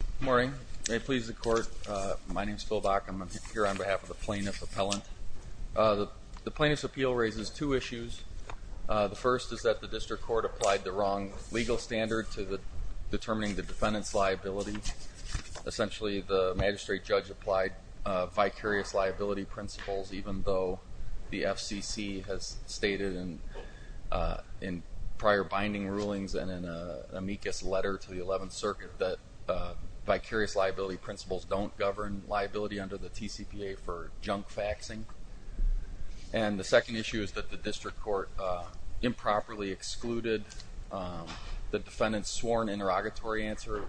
Good morning. May it please the court, my name is Phil Bachum. I'm here on behalf of the plaintiff's appellant. The plaintiff's appeal raises two issues. The first is that the district court applied the wrong legal standard to determining the defendant's liability. Essentially, the magistrate judge applied vicarious liability principles, even though the FCC has stated in prior binding rulings and in an amicus letter to the 11th Circuit that vicarious liability principles don't govern liability under the TCPA for junk faxing. And the second issue is that the district court improperly excluded the defendant's sworn interrogatory answer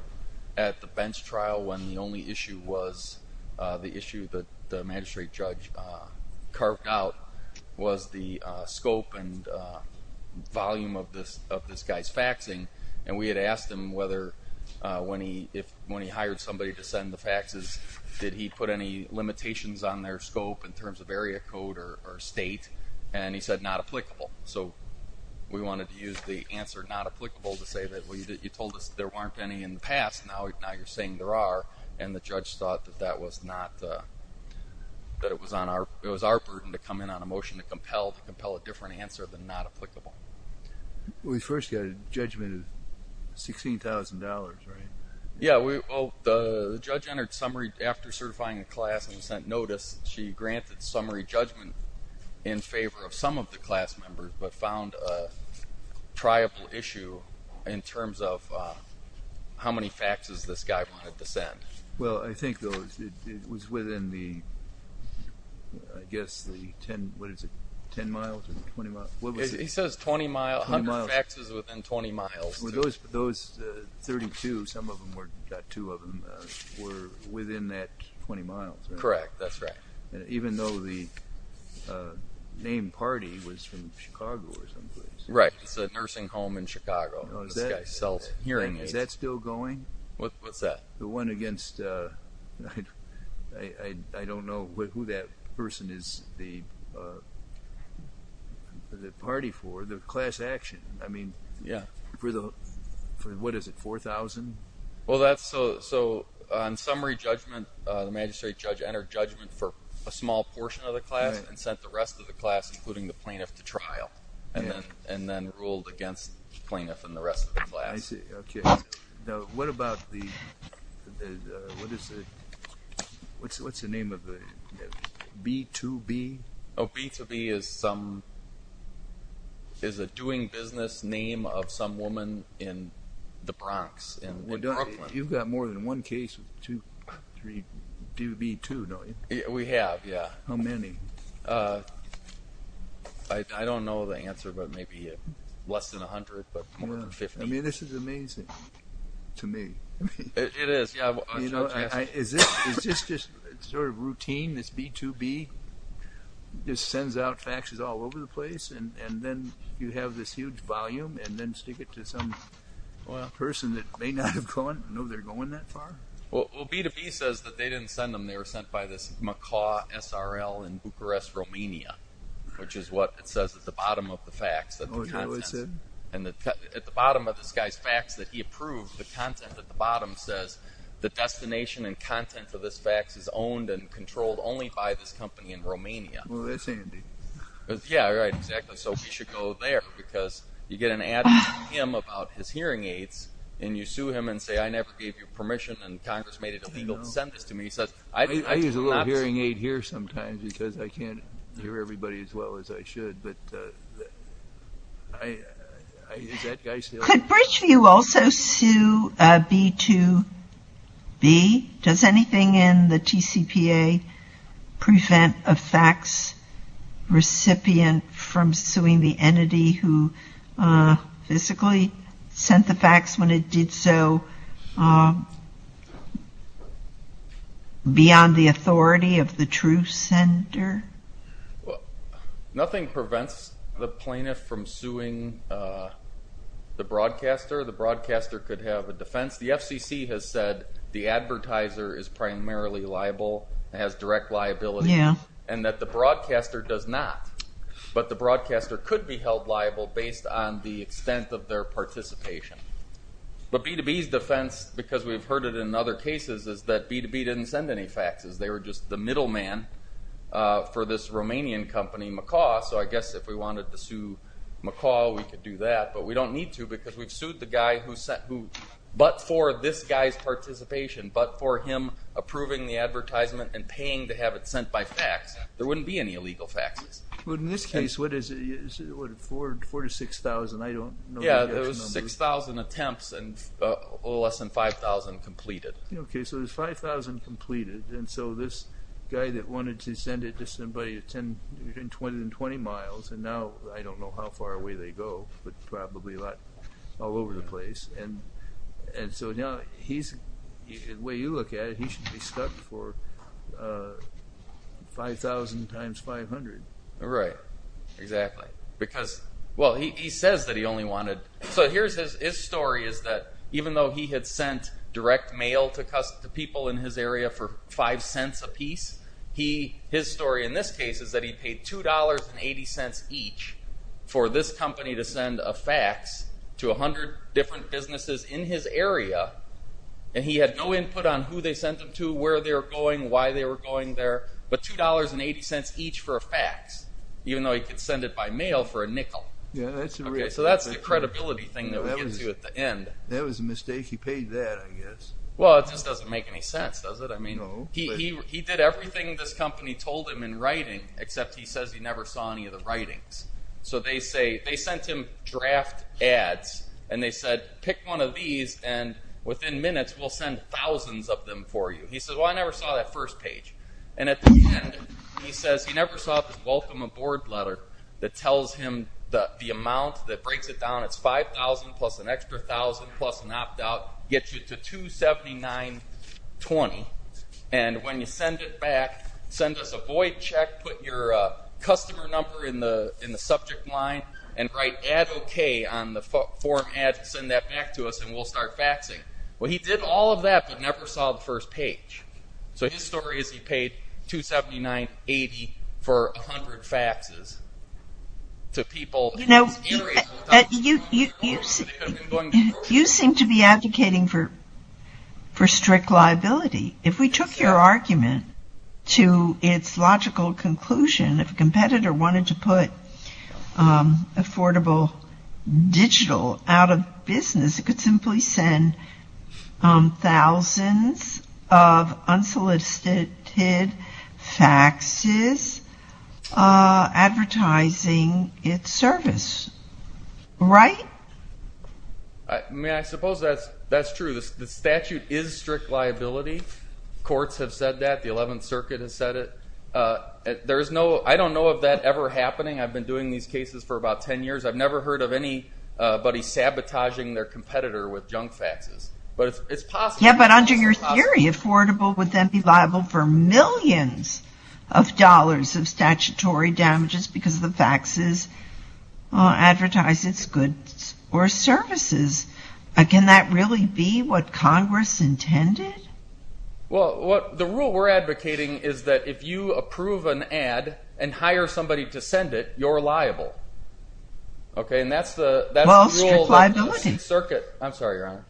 at the bench trial when the only issue was the issue that the magistrate judge carved out was the scope and volume of this guy's faxing. And we had asked him whether when he hired somebody to send the faxes, did he put any limitations on their scope in terms of area code or state? And he said not applicable. So we wanted to use the answer not applicable to say that you told us there weren't any in the past, now you're saying there are. And the judge thought that it was our burden to come in on a motion to compel a different answer than not applicable. We first got a judgment of $16,000, right? Yeah, well, the judge entered summary after certifying the class and sent notice. She granted summary judgment in favor of some of the class members, but found a triable issue in terms of how many faxes this guy wanted to send. Well, I think it was within the, I guess, the 10, what is it, 10 miles or 20 miles? He says 20 miles, 100 faxes within 20 miles. Those 32, some of them were, got two of them, were within that 20 miles, right? Correct. That's right. Even though the named party was from Chicago or someplace. Right. It's a nursing home in Chicago. This guy sells hearing aids. Is that still going? What's that? The one against, I don't know who that person is the party for, the class action. I mean, for the, what is it, 4,000? Well, that's, so on summary judgment, the magistrate judge entered judgment for a small portion of the class and sent the rest of the class, including the plaintiff, to trial and then ruled against the plaintiff and the rest of the class. I see. Okay. Now, what about the, what is it, what's the name of the, B2B? Oh, B2B is some, is a doing business name of some woman in the Bronx, in Brooklyn. You've got more than one case with two, three, B2, don't you? We have, yeah. How many? I don't know the answer, but maybe less than 100, but more than 50. I mean, this is amazing to me. It is. Is this just sort of routine, this B2B just sends out faxes all over the place and then you have this huge volume and then stick it to some person that may not have gone, know they're going that far? Well, B2B says that they didn't send them, they were sent by this Macaw SRL in Bucharest, Romania, which is what it says at the bottom of the fax. Oh, is that what it said? And at the bottom of this guy's fax that he approved, the content at the bottom says, the destination and content for this fax is owned and controlled only by this company in Romania. Oh, that's handy. Yeah, right, exactly. So we should go there because you get an ad from him about his hearing aids and you sue him and say, I never gave you permission and Congress made it illegal to send this to me. I use a little hearing aid here sometimes because I can't hear everybody as well as I should. Could Bridgeview also sue B2B? Does anything in the TCPA prevent a fax recipient from suing the entity who physically sent the fax when it did so beyond the authority of the true sender? Nothing prevents the plaintiff from suing the broadcaster. The broadcaster could have a defense. The FCC has said the advertiser is primarily liable, has direct liability, and that the broadcaster does not. But the broadcaster could be held liable based on the extent of their participation. But B2B's defense, because we've heard it in other cases, is that B2B didn't send any faxes. They were just the middleman for this Romanian company, Macaw. So I guess if we wanted to sue Macaw, we could do that. But we don't need to because we've sued the guy who, but for this guy's participation, but for him approving the advertisement and paying to have it sent by fax, there wouldn't be any illegal faxes. But in this case, what is it? 4,000 to 6,000, I don't know. Yeah, it was 6,000 attempts and less than 5,000 completed. Okay, so there's 5,000 completed. And so this guy that wanted to send it to somebody at 10, 20 miles, and now I don't know how far away they go, but probably all over the place. And so now he's, the way you look at it, he should be stuck for 5,000 times 500. Right, exactly. Well, he says that he only wanted, so here's his story, is that even though he had sent direct mail to people in his area for 5 cents a piece, his story in this case is that he paid $2.80 each for this company to send a fax to 100 different businesses in his area. And he had no input on who they sent them to, where they were going, why they were going there, but $2.80 each for a fax, even though he could send it by mail for a nickel. So that's the credibility thing that we get to at the end. That was a mistake. He paid that, I guess. Well, it just doesn't make any sense, does it? No. He did everything this company told him in writing, except he says he never saw any of the writings. So they sent him draft ads, and they said, pick one of these, and within minutes, we'll send thousands of them for you. He said, well, I never saw that first page. And at the end, he says he never saw the welcome aboard letter that tells him the amount that breaks it down. It's $5,000 plus an extra $1,000 plus an opt-out, gets you to $279.20. And when you send it back, send us a void check, put your customer number in the subject line, and write add okay on the form ad to send that back to us, and we'll start faxing. Well, he did all of that, but never saw the first page. So his story is he paid $279.80 for 100 faxes to people. You know, you seem to be advocating for strict liability. If we took your argument to its logical conclusion, if a competitor wanted to put affordable digital out of business, it could simply send thousands of unsolicited faxes advertising its service, right? I mean, I suppose that's true. The statute is strict liability. Courts have said that. The 11th Circuit has said it. There is no, I don't know of that ever happening. I've been doing these cases for about 10 years. I've never heard of anybody sabotaging their competitor with junk faxes. But it's possible. Yeah, but under your theory, affordable would then be liable for millions of dollars of statutory damages because the faxes advertise its goods or services. Can that really be what Congress intended? Well, the rule we're advocating is that if you approve an ad and hire somebody to send it, you're liable. Okay, and that's the rule of the 11th Circuit. Well, strict liability. I'm sorry, Your Honor.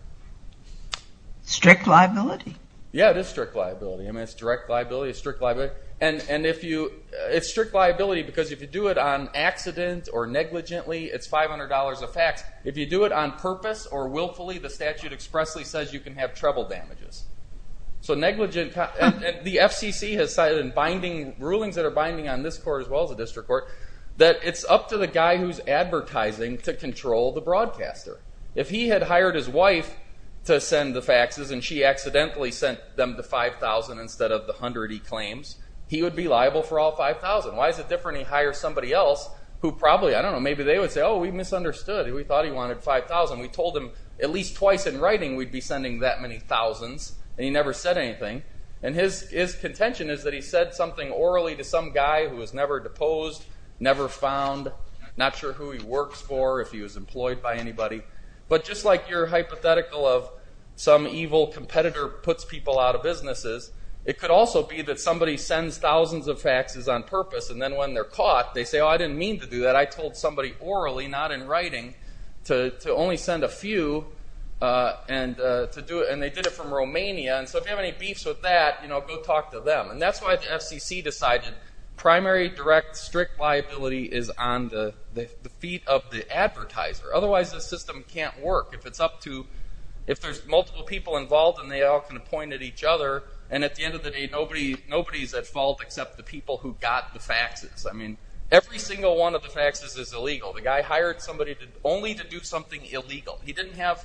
Strict liability? Yeah, it is strict liability. I mean, it's direct liability, it's strict liability. And if you, it's strict liability because if you do it on accident or negligently, it's $500 a fax. If you do it on purpose or willfully, the statute expressly says you can have treble damages. So negligent, and the FCC has cited binding, rulings that are binding on this court as well as the district court, that it's up to the guy who's advertising to control the broadcaster. If he had hired his wife to send the faxes and she accidentally sent them to $5,000 instead of the $100,000 he claims, he would be liable for all $5,000. Why is it different if he hires somebody else who probably, I don't know, maybe they would say, oh, we misunderstood. We thought he wanted $5,000. We told him at least twice in writing we'd be sending that many thousands, and he never said anything. And his contention is that he said something orally to some guy who was never deposed, never found, not sure who he works for, if he was employed by anybody. But just like your hypothetical of some evil competitor puts people out of businesses, it could also be that somebody sends thousands of faxes on purpose, and then when they're caught, they say, oh, I didn't mean to do that. I told somebody orally, not in writing, to only send a few, and they did it from Romania. And so if you have any beefs with that, go talk to them. And that's why the FCC decided primary, direct, strict liability is on the feet of the advertiser. Otherwise, the system can't work. If there's multiple people involved and they all can point at each other, and at the end of the day, nobody's at fault except the people who got the faxes. I mean, every single one of the faxes is illegal. The guy hired somebody only to do something illegal. He didn't have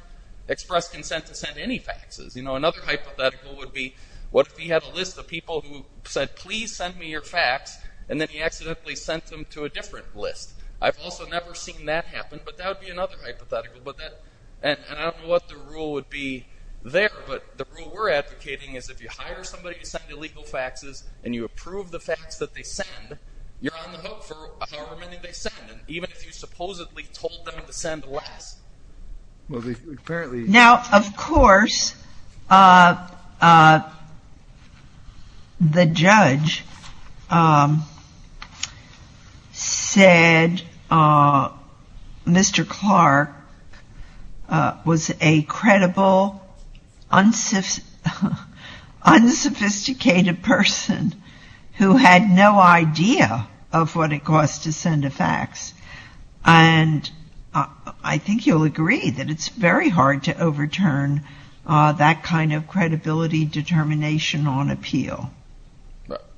express consent to send any faxes. You know, another hypothetical would be what if he had a list of people who said, please send me your fax, and then he accidentally sent them to a different list. I've also never seen that happen, but that would be another hypothetical. And I don't know what the rule would be there, but the rule we're advocating is if you hire somebody to send illegal faxes and you approve the fax that they send, you're on the hook for however many they send, even if you supposedly told them to send less. Now, of course, the judge said Mr. Clark was a credible, unsophisticated person who had no idea of what it cost to send a fax. And I think you'll agree that it's very hard to overturn that kind of credibility determination on appeal.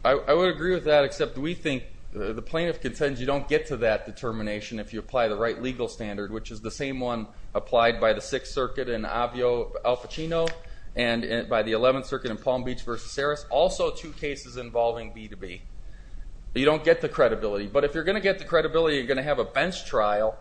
I would agree with that, except we think the plaintiff contends you don't get to that determination if you apply the right legal standard, which is the same one applied by the Sixth Circuit in Avio Al Pacino and by the Eleventh Circuit in Palm Beach v. Saris, also two cases involving B2B. You don't get the credibility. But if you're going to get the credibility, you're going to have a bench trial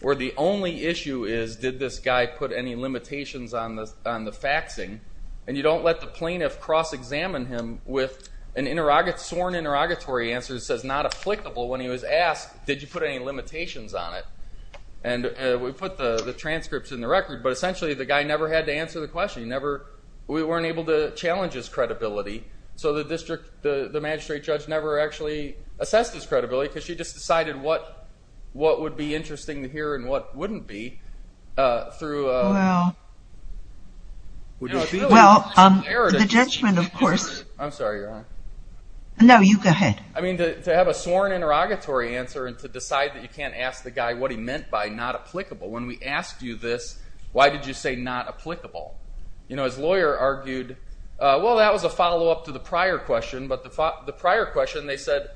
where the only issue is, did this guy put any limitations on the faxing? And you don't let the plaintiff cross-examine him with a sworn interrogatory answer that says, not applicable, when he was asked, did you put any limitations on it? And we put the transcripts in the record, but essentially the guy never had to answer the question. We weren't able to challenge his credibility. So the magistrate judge never actually assessed his credibility because she just decided what would be interesting to hear and what wouldn't be. Well, the judgment, of course. I'm sorry, Your Honor. No, you go ahead. I mean, to have a sworn interrogatory answer and to decide that you can't ask the guy what he meant by not applicable, when we asked you this, why did you say not applicable? You know, his lawyer argued, well, that was a follow-up to the prior question. But the prior question, they said,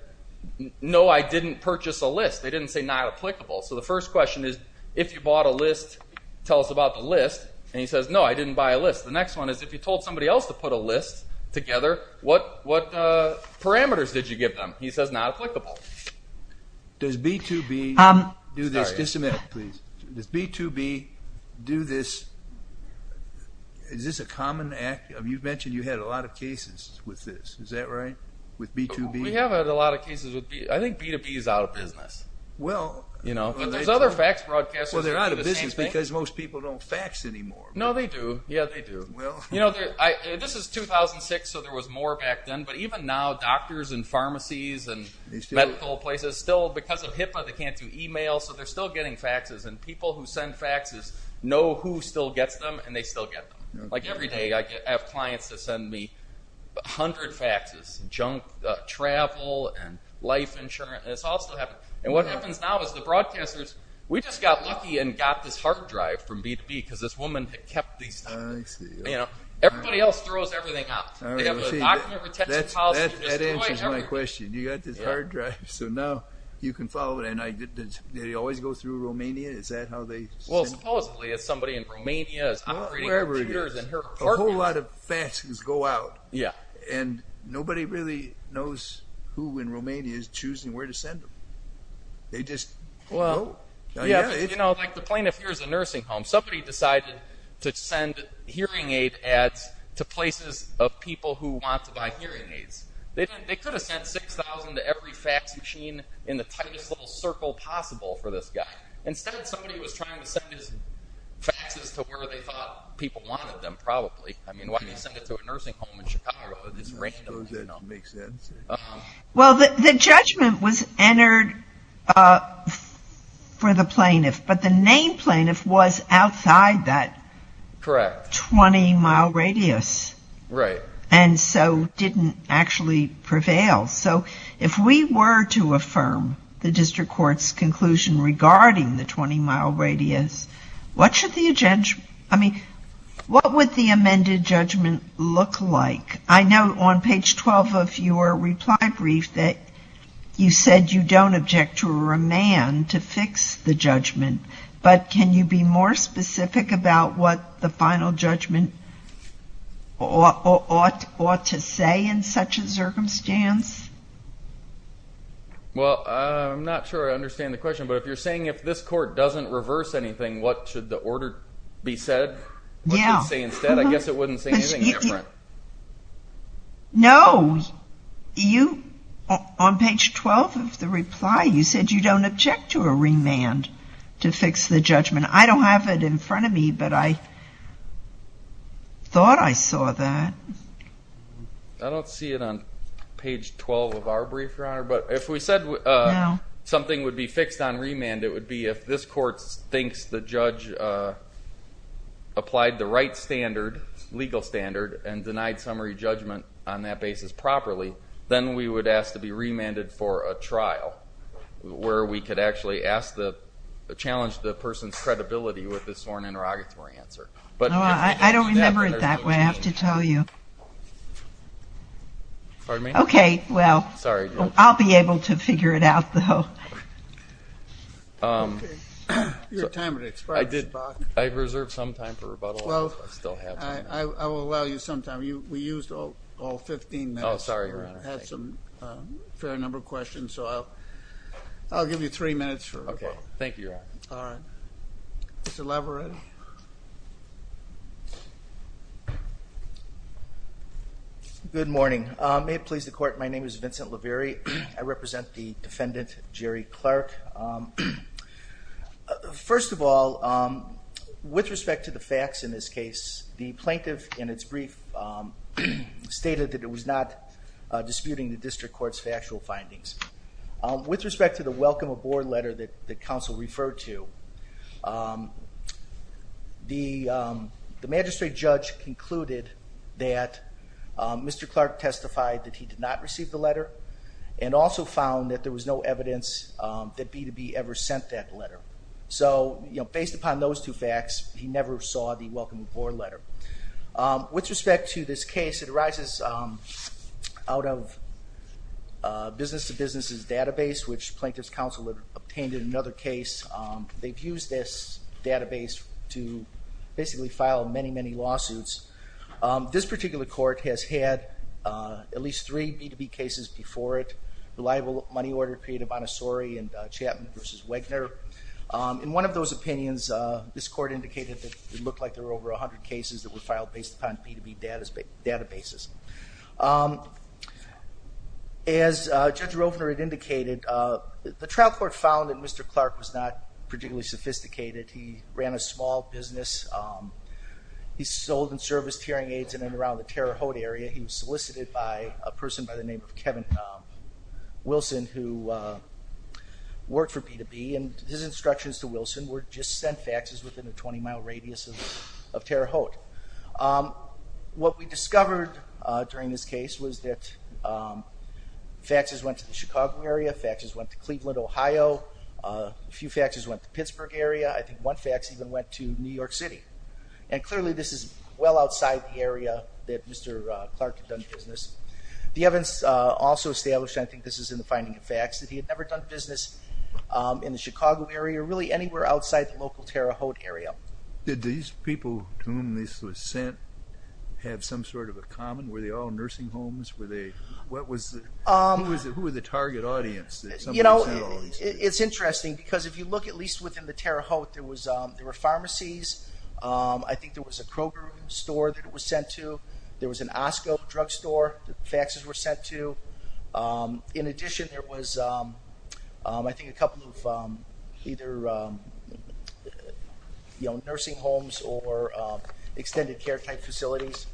no, I didn't purchase a list. They didn't say not applicable. So the first question is, if you bought a list, tell us about the list. And he says, no, I didn't buy a list. The next one is, if you told somebody else to put a list together, what parameters did you give them? He says, not applicable. Does B-to-B do this? Just a minute, please. Does B-to-B do this? Is this a common act? You've mentioned you've had a lot of cases with this. Is that right, with B-to-B? We have had a lot of cases with B-to-B. I think B-to-B is out of business. There's other fax broadcasters that do the same thing. Well, they're out of business because most people don't fax anymore. No, they do. This is 2006, so there was more back then. But even now, doctors and pharmacies and medical places still, because of HIPAA, they can't do e-mail, so they're still getting faxes. And people who send faxes know who still gets them, and they still get them. Like every day, I have clients that send me 100 faxes, junk, travel, and life insurance. And it's all still happening. And what happens now is the broadcasters, we just got lucky and got this hard drive from B-to-B because this woman had kept these documents. Everybody else throws everything out. They have a document retention policy to destroy everything. That answers my question. You got this hard drive, so now you can follow it. And do they always go through Romania? Is that how they send it? Well, supposedly, if somebody in Romania is upgrading computers in her apartment. A whole lot of faxes go out. Yeah. And nobody really knows who in Romania is choosing where to send them. They just go. You know, like the plaintiff hears a nursing home. Somebody decided to send hearing aid ads to places of people who want to buy hearing aids. They could have sent 6,000 to every fax machine in the tightest little circle possible for this guy. Instead, somebody was trying to send his faxes to where they thought people wanted them, probably. I mean, why do you send it to a nursing home in Chicago? It's random. I suppose that makes sense. Well, the judgment was entered for the plaintiff. But the named plaintiff was outside that 20-mile radius. Right. And so didn't actually prevail. So if we were to affirm the district court's conclusion regarding the 20-mile radius, what would the amended judgment look like? I know on page 12 of your reply brief that you said you don't object to a remand to fix the judgment. But can you be more specific about what the final judgment ought to say in such a circumstance? Well, I'm not sure I understand the question. But if you're saying if this court doesn't reverse anything, what should the order be said? Yeah. I guess it wouldn't say anything different. No. On page 12 of the reply, you said you don't object to a remand to fix the judgment. I don't have it in front of me, but I thought I saw that. I don't see it on page 12 of our brief, Your Honor. But if we said something would be fixed on remand, it would be if this court thinks the judge applied the right standard, legal standard, and denied summary judgment on that basis properly, then we would ask to be remanded for a trial, where we could actually challenge the person's credibility with a sworn interrogatory answer. I don't remember it that way, I have to tell you. Pardon me? Okay, well. Sorry. I'll be able to figure it out, though. You have time to express yourself. I've reserved some time for rebuttal. Well, I will allow you some time. We used all 15 minutes. Oh, sorry, Your Honor. I had a fair number of questions, so I'll give you three minutes for rebuttal. Okay, thank you, Your Honor. All right. Mr. Laverette? Good morning. May it please the Court, my name is Vincent Laverette. I represent the defendant, Jerry Clark. First of all, with respect to the facts in this case, the plaintiff in its brief stated that it was not disputing the district court's factual findings. With respect to the welcome aboard letter that counsel referred to, the magistrate judge concluded that Mr. Clark testified that he did not receive the letter and also found that there was no evidence that B2B ever sent that letter. So, based upon those two facts, he never saw the welcome aboard letter. With respect to this case, it arises out of Business to Business' database, which Plaintiff's Counsel obtained in another case. They've used this database to basically file many, many lawsuits. This particular court has had at least three B2B cases before it, reliable money order period of Montessori and Chapman v. Wegner. In one of those opinions, this court indicated that it looked like there were over 100 cases that were filed based upon B2B databases. As Judge Rofner had indicated, the trial court found that Mr. Clark was not particularly sophisticated. He ran a small business. He sold and serviced hearing aids in and around the Terre Haute area. He was solicited by a person by the name of Kevin Wilson, who worked for B2B, and his instructions to Wilson were just send faxes within a 20-mile radius of Terre Haute. What we discovered during this case was that faxes went to the Chicago area, faxes went to Cleveland, Ohio. A few faxes went to the Pittsburgh area. I think one fax even went to New York City. And clearly, this is well outside the area that Mr. Clark had done business. The evidence also established, and I think this is in the finding of fax, that he had never done business in the Chicago area or really anywhere outside the local Terre Haute area. Did these people to whom this was sent have some sort of a common? Were they all nursing homes? Who was the target audience? It's interesting because if you look at least within the Terre Haute, there were pharmacies. I think there was a Kroger store that it was sent to. There was an Osco drugstore that faxes were sent to. In addition, there was, I think, a couple of either nursing homes or extended care type facilities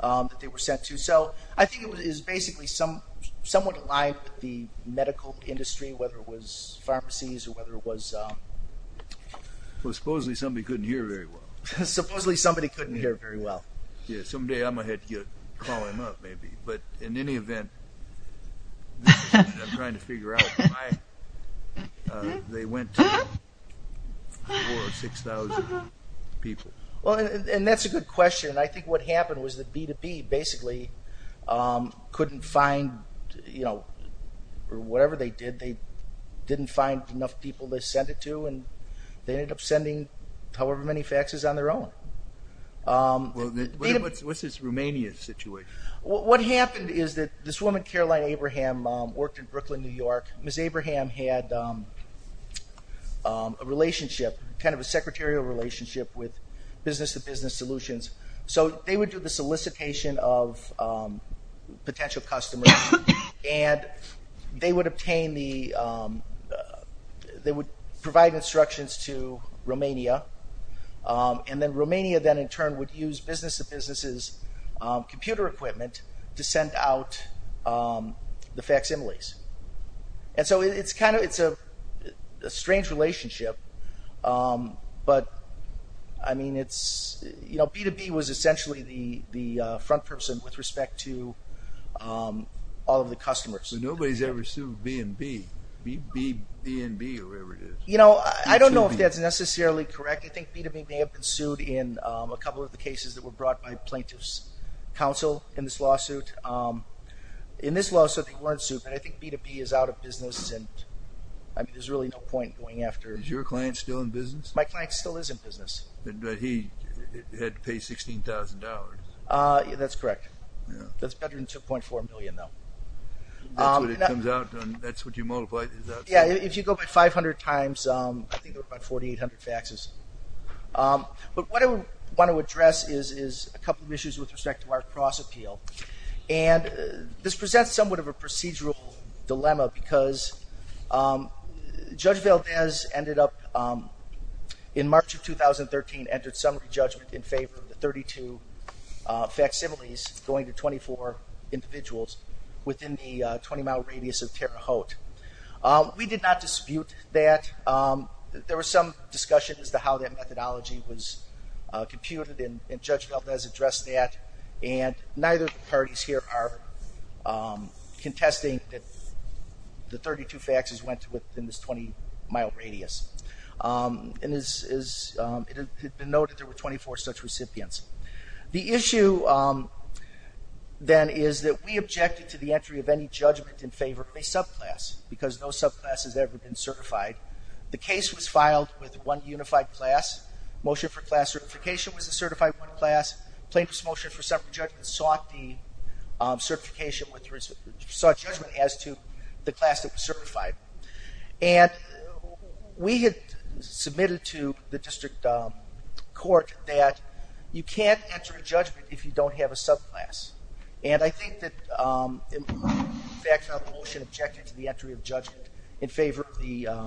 that they were sent to. So I think it was basically somewhat aligned with the medical industry, whether it was pharmacies or whether it was... Well, supposedly somebody couldn't hear very well. Supposedly somebody couldn't hear very well. Yeah, someday I'm going to have to call him up maybe. But in any event, I'm trying to figure out why they went to 4,000 or 6,000 people. Well, and that's a good question. I think what happened was that B2B basically couldn't find, or whatever they did, they didn't find enough people to send it to, and they ended up sending however many faxes on their own. What's this Romania situation? What happened is that this woman, Caroline Abraham, worked in Brooklyn, New York. Ms. Abraham had a relationship, kind of a secretarial relationship, with Business to Business Solutions. So they would do the solicitation of potential customers, and they would obtain the... They would provide instructions to Romania. And then Romania then in turn would use Business to Business's computer equipment to send out the faximiles. And so it's kind of a strange relationship. But, I mean, B2B was essentially the front person with respect to all of the customers. But nobody's ever sued B&B, B&B or whatever it is. You know, I don't know if that's necessarily correct. I think B2B may have been sued in a couple of the cases that were brought by plaintiffs' counsel in this lawsuit. In this lawsuit, they weren't sued. But I think B2B is out of business, and there's really no point going after... Is your client still in business? My client still is in business. But he had to pay $16,000. That's correct. That's better than $2.4 million, though. That's what you multiply. Yeah, if you go by 500 times, I think there were about 4,800 faxes. But what I want to address is a couple of issues with respect to our cross-appeal. And this presents somewhat of a procedural dilemma because Judge Valdez ended up, in March of 2013, entered summary judgment in favor of the 32 facsimiles going to 24 individuals within the 20-mile radius of Terre Haute. We did not dispute that. There was some discussion as to how that methodology was computed, and Judge Valdez addressed that. And neither of the parties here are contesting that the 32 faxes went within this 20-mile radius. And it had been noted there were 24 such recipients. The issue, then, is that we objected to the entry of any judgment in favor of a subclass because no subclass has ever been certified. The case was filed with one unified class. Motion for class certification was a certified one class. Plaintiff's motion for summary judgment sought judgment as to the class that was certified. And we had submitted to the district court that you can't enter a judgment if you don't have a subclass. And I think that the motion objected to the entry of judgment in favor of the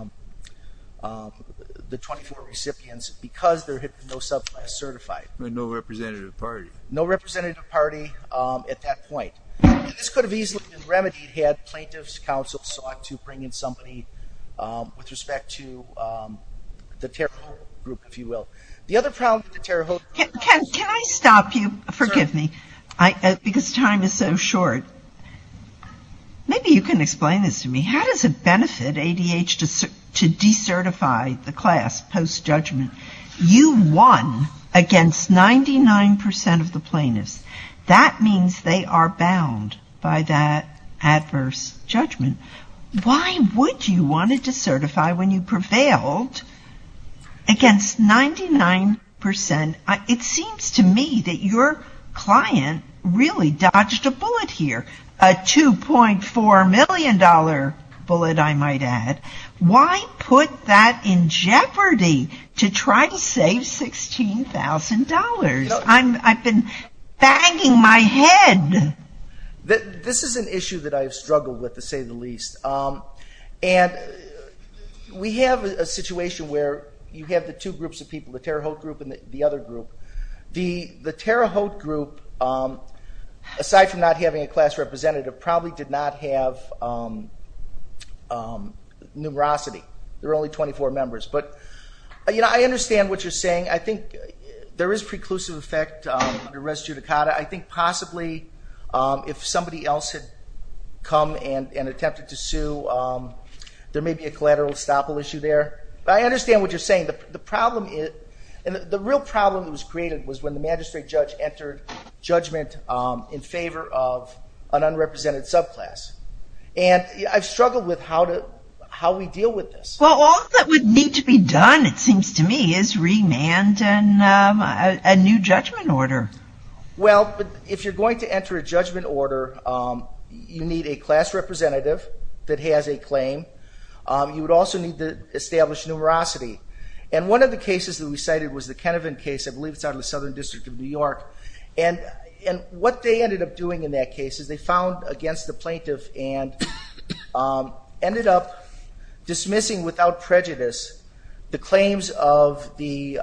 24 recipients because there had been no subclass certified. No representative party. No representative party at that point. This could have easily been remedied had plaintiff's counsel sought to bring in somebody with respect to the Terre Haute group, if you will. The other problem with the Terre Haute group... Can I stop you? Sorry. Forgive me. Because time is so short. Maybe you can explain this to me. How does it benefit ADH to decertify the class post-judgment? You won against 99% of the plaintiffs. That means they are bound by that adverse judgment. Why would you want to decertify when you prevailed against 99%? It seems to me that your client really dodged a bullet here. A $2.4 million bullet, I might add. Why put that in jeopardy to try to save $16,000? I've been banging my head. This is an issue that I have struggled with, to say the least. And we have a situation where you have the two groups of people, the Terre Haute group and the other group. The Terre Haute group, aside from not having a class representative, probably did not have numerosity. There were only 24 members. But, you know, I understand what you're saying. I think there is preclusive effect under res judicata. I think possibly if somebody else had come and attempted to sue, there may be a collateral estoppel issue there. But I understand what you're saying. The real problem that was created was when the magistrate judge entered judgment in favor of an unrepresented subclass. And I've struggled with how we deal with this. Well, all that would need to be done, it seems to me, is remand and a new judgment order. Well, if you're going to enter a judgment order, you need a class representative that has a claim. You would also need to establish numerosity. And one of the cases that we cited was the Kenevan case. I believe it's out of the Southern District of New York. And what they ended up doing in that case is they found against the without prejudice the claims of the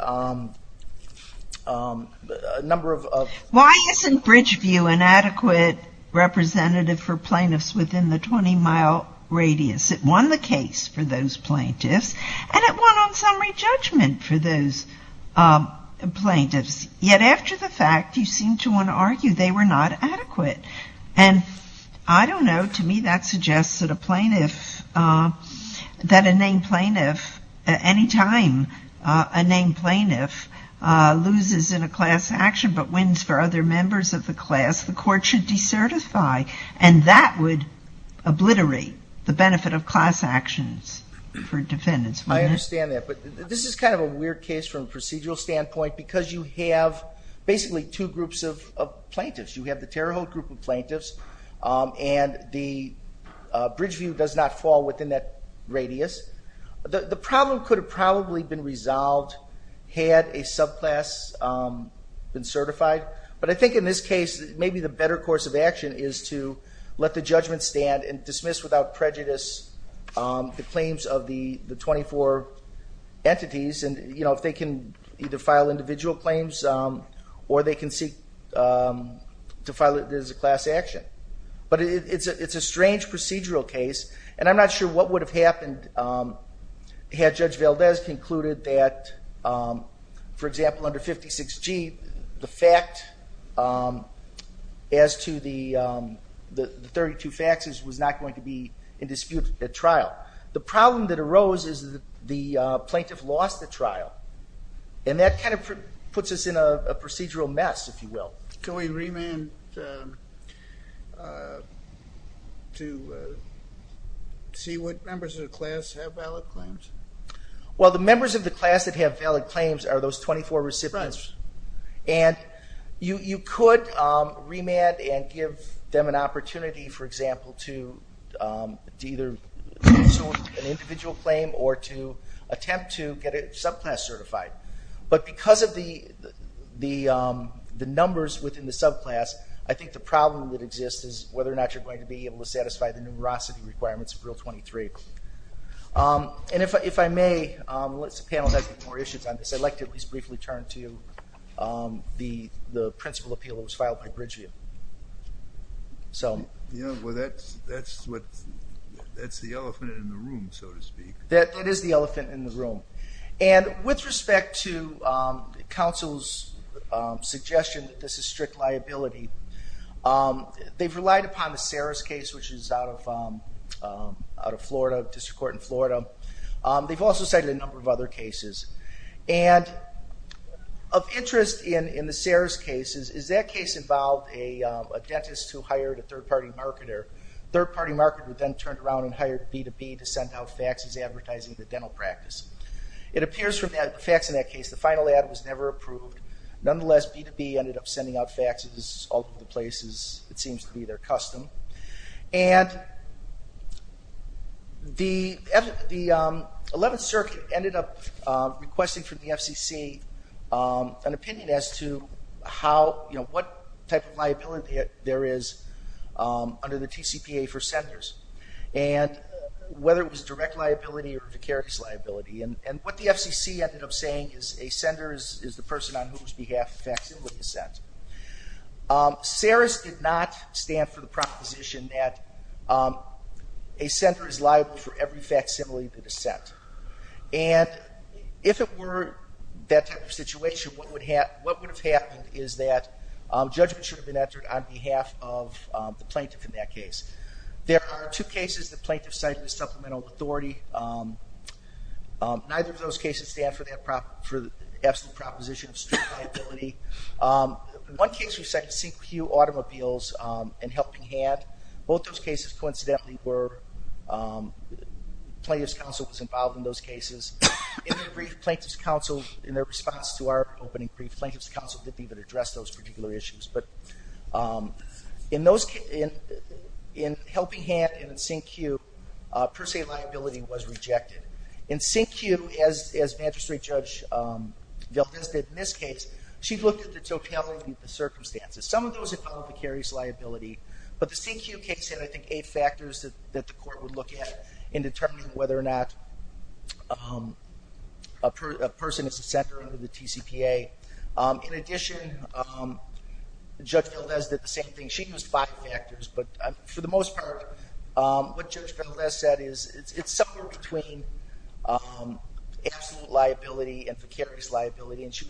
number of... Why isn't Bridgeview an adequate representative for plaintiffs within the 20-mile radius? It won the case for those plaintiffs. And it won on summary judgment for those plaintiffs. Yet after the fact, you seem to want to argue they were not adequate. And I don't know. To me, that suggests that a plaintiff, that a named plaintiff, any time a named plaintiff loses in a class action but wins for other members of the class, the court should decertify. And that would obliterate the benefit of class actions for defendants. I understand that. But this is kind of a weird case from a procedural standpoint because you have basically two groups of plaintiffs. You have the Terre Haute group of plaintiffs and Bridgeview does not fall within that radius. The problem could have probably been resolved had a subclass been certified. But I think in this case, maybe the better course of action is to let the judgment stand and dismiss without prejudice the claims of the 24 entities. And if they can either file individual claims or they can seek to file it as a class action. But it's a strange procedural case. And I'm not sure what would have happened had Judge Valdez concluded that, for example, under 56G, the fact as to the 32 faxes was not going to be in dispute at trial. And that kind of puts us in a procedural mess, if you will. Can we remand to see what members of the class have valid claims? Well, the members of the class that have valid claims are those 24 recipients. And you could remand and give them an opportunity, for example, to either issue an individual claim or to attempt to get a subclass certified. But because of the numbers within the subclass, I think the problem that exists is whether or not you're going to be able to satisfy the numerosity requirements of Rule 23. And if I may, unless the panel has more issues on this, I'd like to at least briefly turn to the principal appeal that was filed by Bridgeview. Yeah, well, that's the elephant in the room, so to speak. That is the elephant in the room. And with respect to counsel's suggestion that this is strict liability, they've relied upon the Saris case, which is out of Florida, District Court in Florida. They've also cited a number of other cases. And of interest in the Saris cases is that case involved a dentist who hired a third-party marketer. The third-party marketer then turned around and hired B2B to send out faxes advertising the dental practice. It appears from the fax in that case the final ad was never approved. Nonetheless, B2B ended up sending out faxes all over the places it seems to be their custom. And the 11th Circuit ended up requesting from the FCC an opinion as to how, you know, what type of liability there is under the TCPA for senders and whether it was direct liability or vicarious liability. And what the FCC ended up saying is a sender is the person on whose behalf a facsimile is sent. Saris did not stand for the proposition that a sender is liable for every facsimile that is sent. And if it were that type of situation, what would have happened is that judgment should have been entered on behalf of the plaintiff in that case. There are two cases the plaintiff cited as supplemental authority. Neither of those cases stand for the absolute proposition of strict liability. One case we cited was Sinclair-Hugh Automobiles and Helping Hand. Both those cases coincidentally were plaintiff's counsel was involved in those cases. In their response to our opening brief, plaintiff's counsel didn't even address those particular issues. But in Helping Hand and in Sinclair-Hugh, per se liability was rejected. In Sinclair-Hugh, as Magistrate Judge Valdes did in this case, she looked at the totality of the circumstances. Some of those involved vicarious liability, but the Sinclair-Hugh case had, I think, eight factors that the court would look at in determining whether or not a person is a sender under the TCPA. In addition, Judge Valdes did the same thing. She used five factors, but for the most part, what Judge Valdes said is it's somewhere between absolute liability and vicarious liability, and she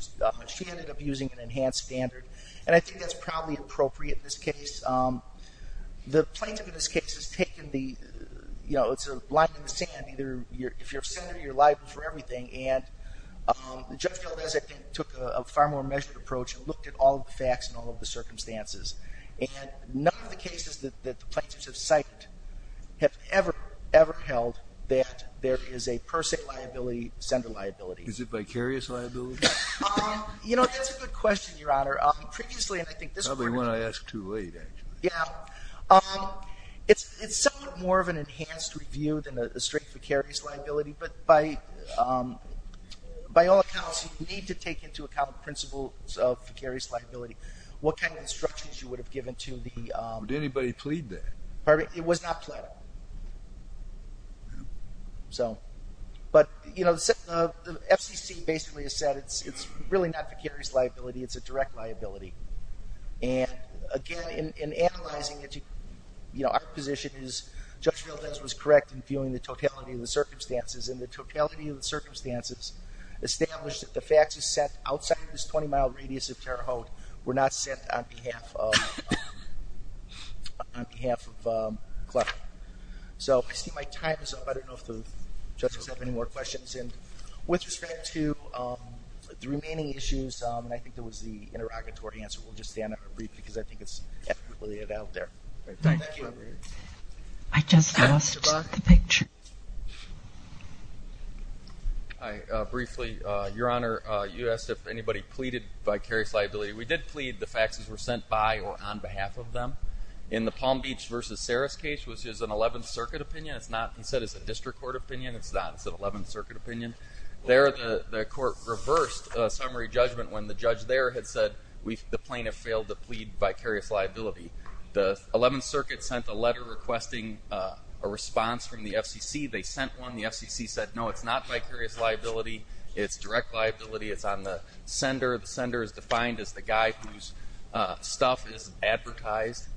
ended up using an enhanced standard. And I think that's probably appropriate in this case. The plaintiff in this case has taken the, you know, it's a line in the sand. Either if you're a sender, you're liable for everything. And Judge Valdes, I think, took a far more measured approach and looked at all of the facts and all of the circumstances. And none of the cases that the plaintiffs have cited have ever, ever held that there is a per se liability, sender liability. Is it vicarious liability? You know, that's a good question, Your Honor. Probably won't ask too late, actually. Yeah. It's somewhat more of an enhanced review than a straight vicarious liability, but by all accounts, you need to take into account the principles of vicarious liability. What kind of instructions you would have given to the — Did anybody plead that? It was not pleaded. But, you know, the FCC basically has said it's really not vicarious liability. It's a direct liability. And, again, in analyzing it, you know, our position is Judge Valdes was correct in viewing the totality of the circumstances, and the totality of the circumstances established that the facts set outside this 20-mile radius of Terre Haute were not set on behalf of Clark. So I see my time is up. I don't know if the judges have any more questions. And with respect to the remaining issues, I think there was the interrogatory answer. We'll just stand up and read because I think it's out there. Thank you. I just lost the picture. Briefly, Your Honor, you asked if anybody pleaded vicarious liability. We did plead. The facts were sent by or on behalf of them. In the Palm Beach v. Saris case, which is an 11th Circuit opinion, it's not set as a district court opinion. It's not. It's an 11th Circuit opinion. There the court reversed summary judgment when the judge there had said, the plaintiff failed to plead vicarious liability. The 11th Circuit sent a letter requesting a response from the FCC. They sent one. The FCC said, no, it's not vicarious liability. It's direct liability. It's on the sender. The sender is defined as the guy whose stuff is advertised.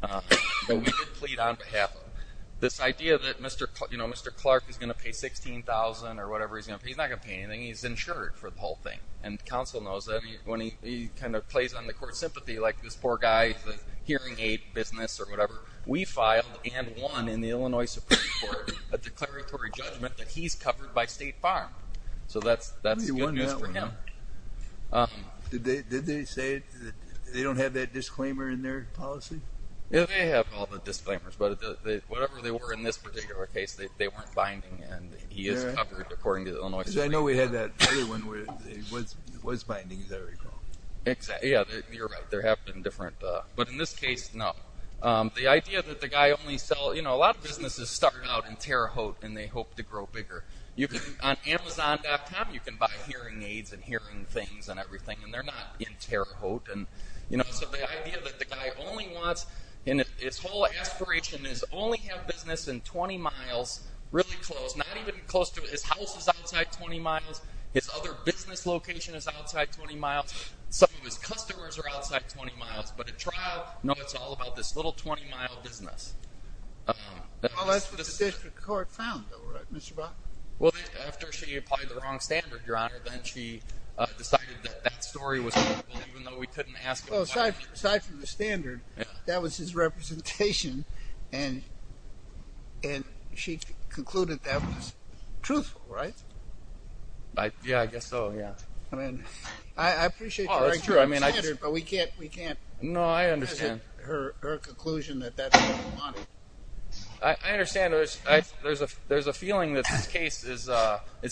But we did plead on behalf of him. This idea that Mr. Clark is going to pay $16,000 or whatever, he's not going to pay anything. He's insured for the whole thing. And counsel knows that when he kind of plays on the court's sympathy, like this poor guy, the hearing aid business or whatever, we filed and won in the Illinois Supreme Court a declaratory judgment that he's covered by State Farm. So that's good news for him. Did they say they don't have that disclaimer in their policy? Yeah, they have all the disclaimers. But whatever they were in this particular case, they weren't binding. And he is covered according to the Illinois Supreme Court. Because I know we had that other one where it was binding. Is that right, Carl? Exactly. Yeah, you're right. There have been different. But in this case, no. The idea that the guy only sells, you know, a lot of businesses start out in Terre Haute and they hope to grow bigger. On Amazon.com you can buy hearing aids and hearing things and everything, and they're not in Terre Haute. So the idea that the guy only wants, and his whole aspiration is only have business in 20 miles, really close. Not even close to his house is outside 20 miles. His other business location is outside 20 miles. Some of his customers are outside 20 miles. But at trial, no, it's all about this little 20-mile business. Well, that's what the district court found, though, right, Mr. Bach? Well, after she applied the wrong standard, Your Honor, then she decided that that story was horrible, even though we couldn't ask it. Well, aside from the standard, that was his representation, and she concluded that was truthful, right? Yeah, I guess so, yeah. I mean, I appreciate the right standard, but we can't present her conclusion that that's what we wanted. I understand. There's a feeling that this case is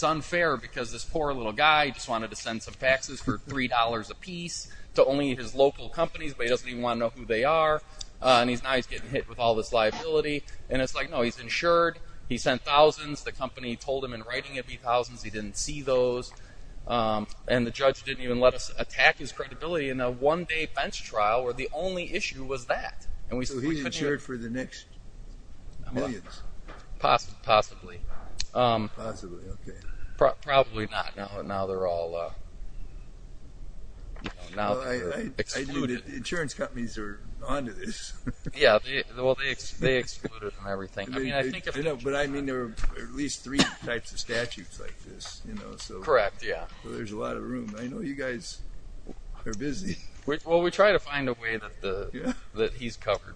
unfair because this poor little guy just wanted to send some taxes for $3 apiece to only his local companies, but he doesn't even want to know who they are, and now he's getting hit with all this liability. And it's like, no, he's insured. He sent thousands. The company told him in writing it'd be thousands. He didn't see those. And the judge didn't even let us attack his credibility in a one-day bench trial where the only issue was that. So he's insured for the next millions? Possibly. Possibly, okay. Probably not. Now they're all excluded. Insurance companies are on to this. Yeah, well, they excluded him and everything. But, I mean, there are at least three types of statutes like this. Correct, yeah. So there's a lot of room. I know you guys are busy. Well, we try to find a way that he's covered.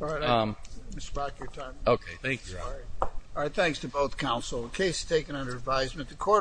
Mr. Brock, your time. Okay, thank you. All right, thanks to both counsel. The case is taken under advisement.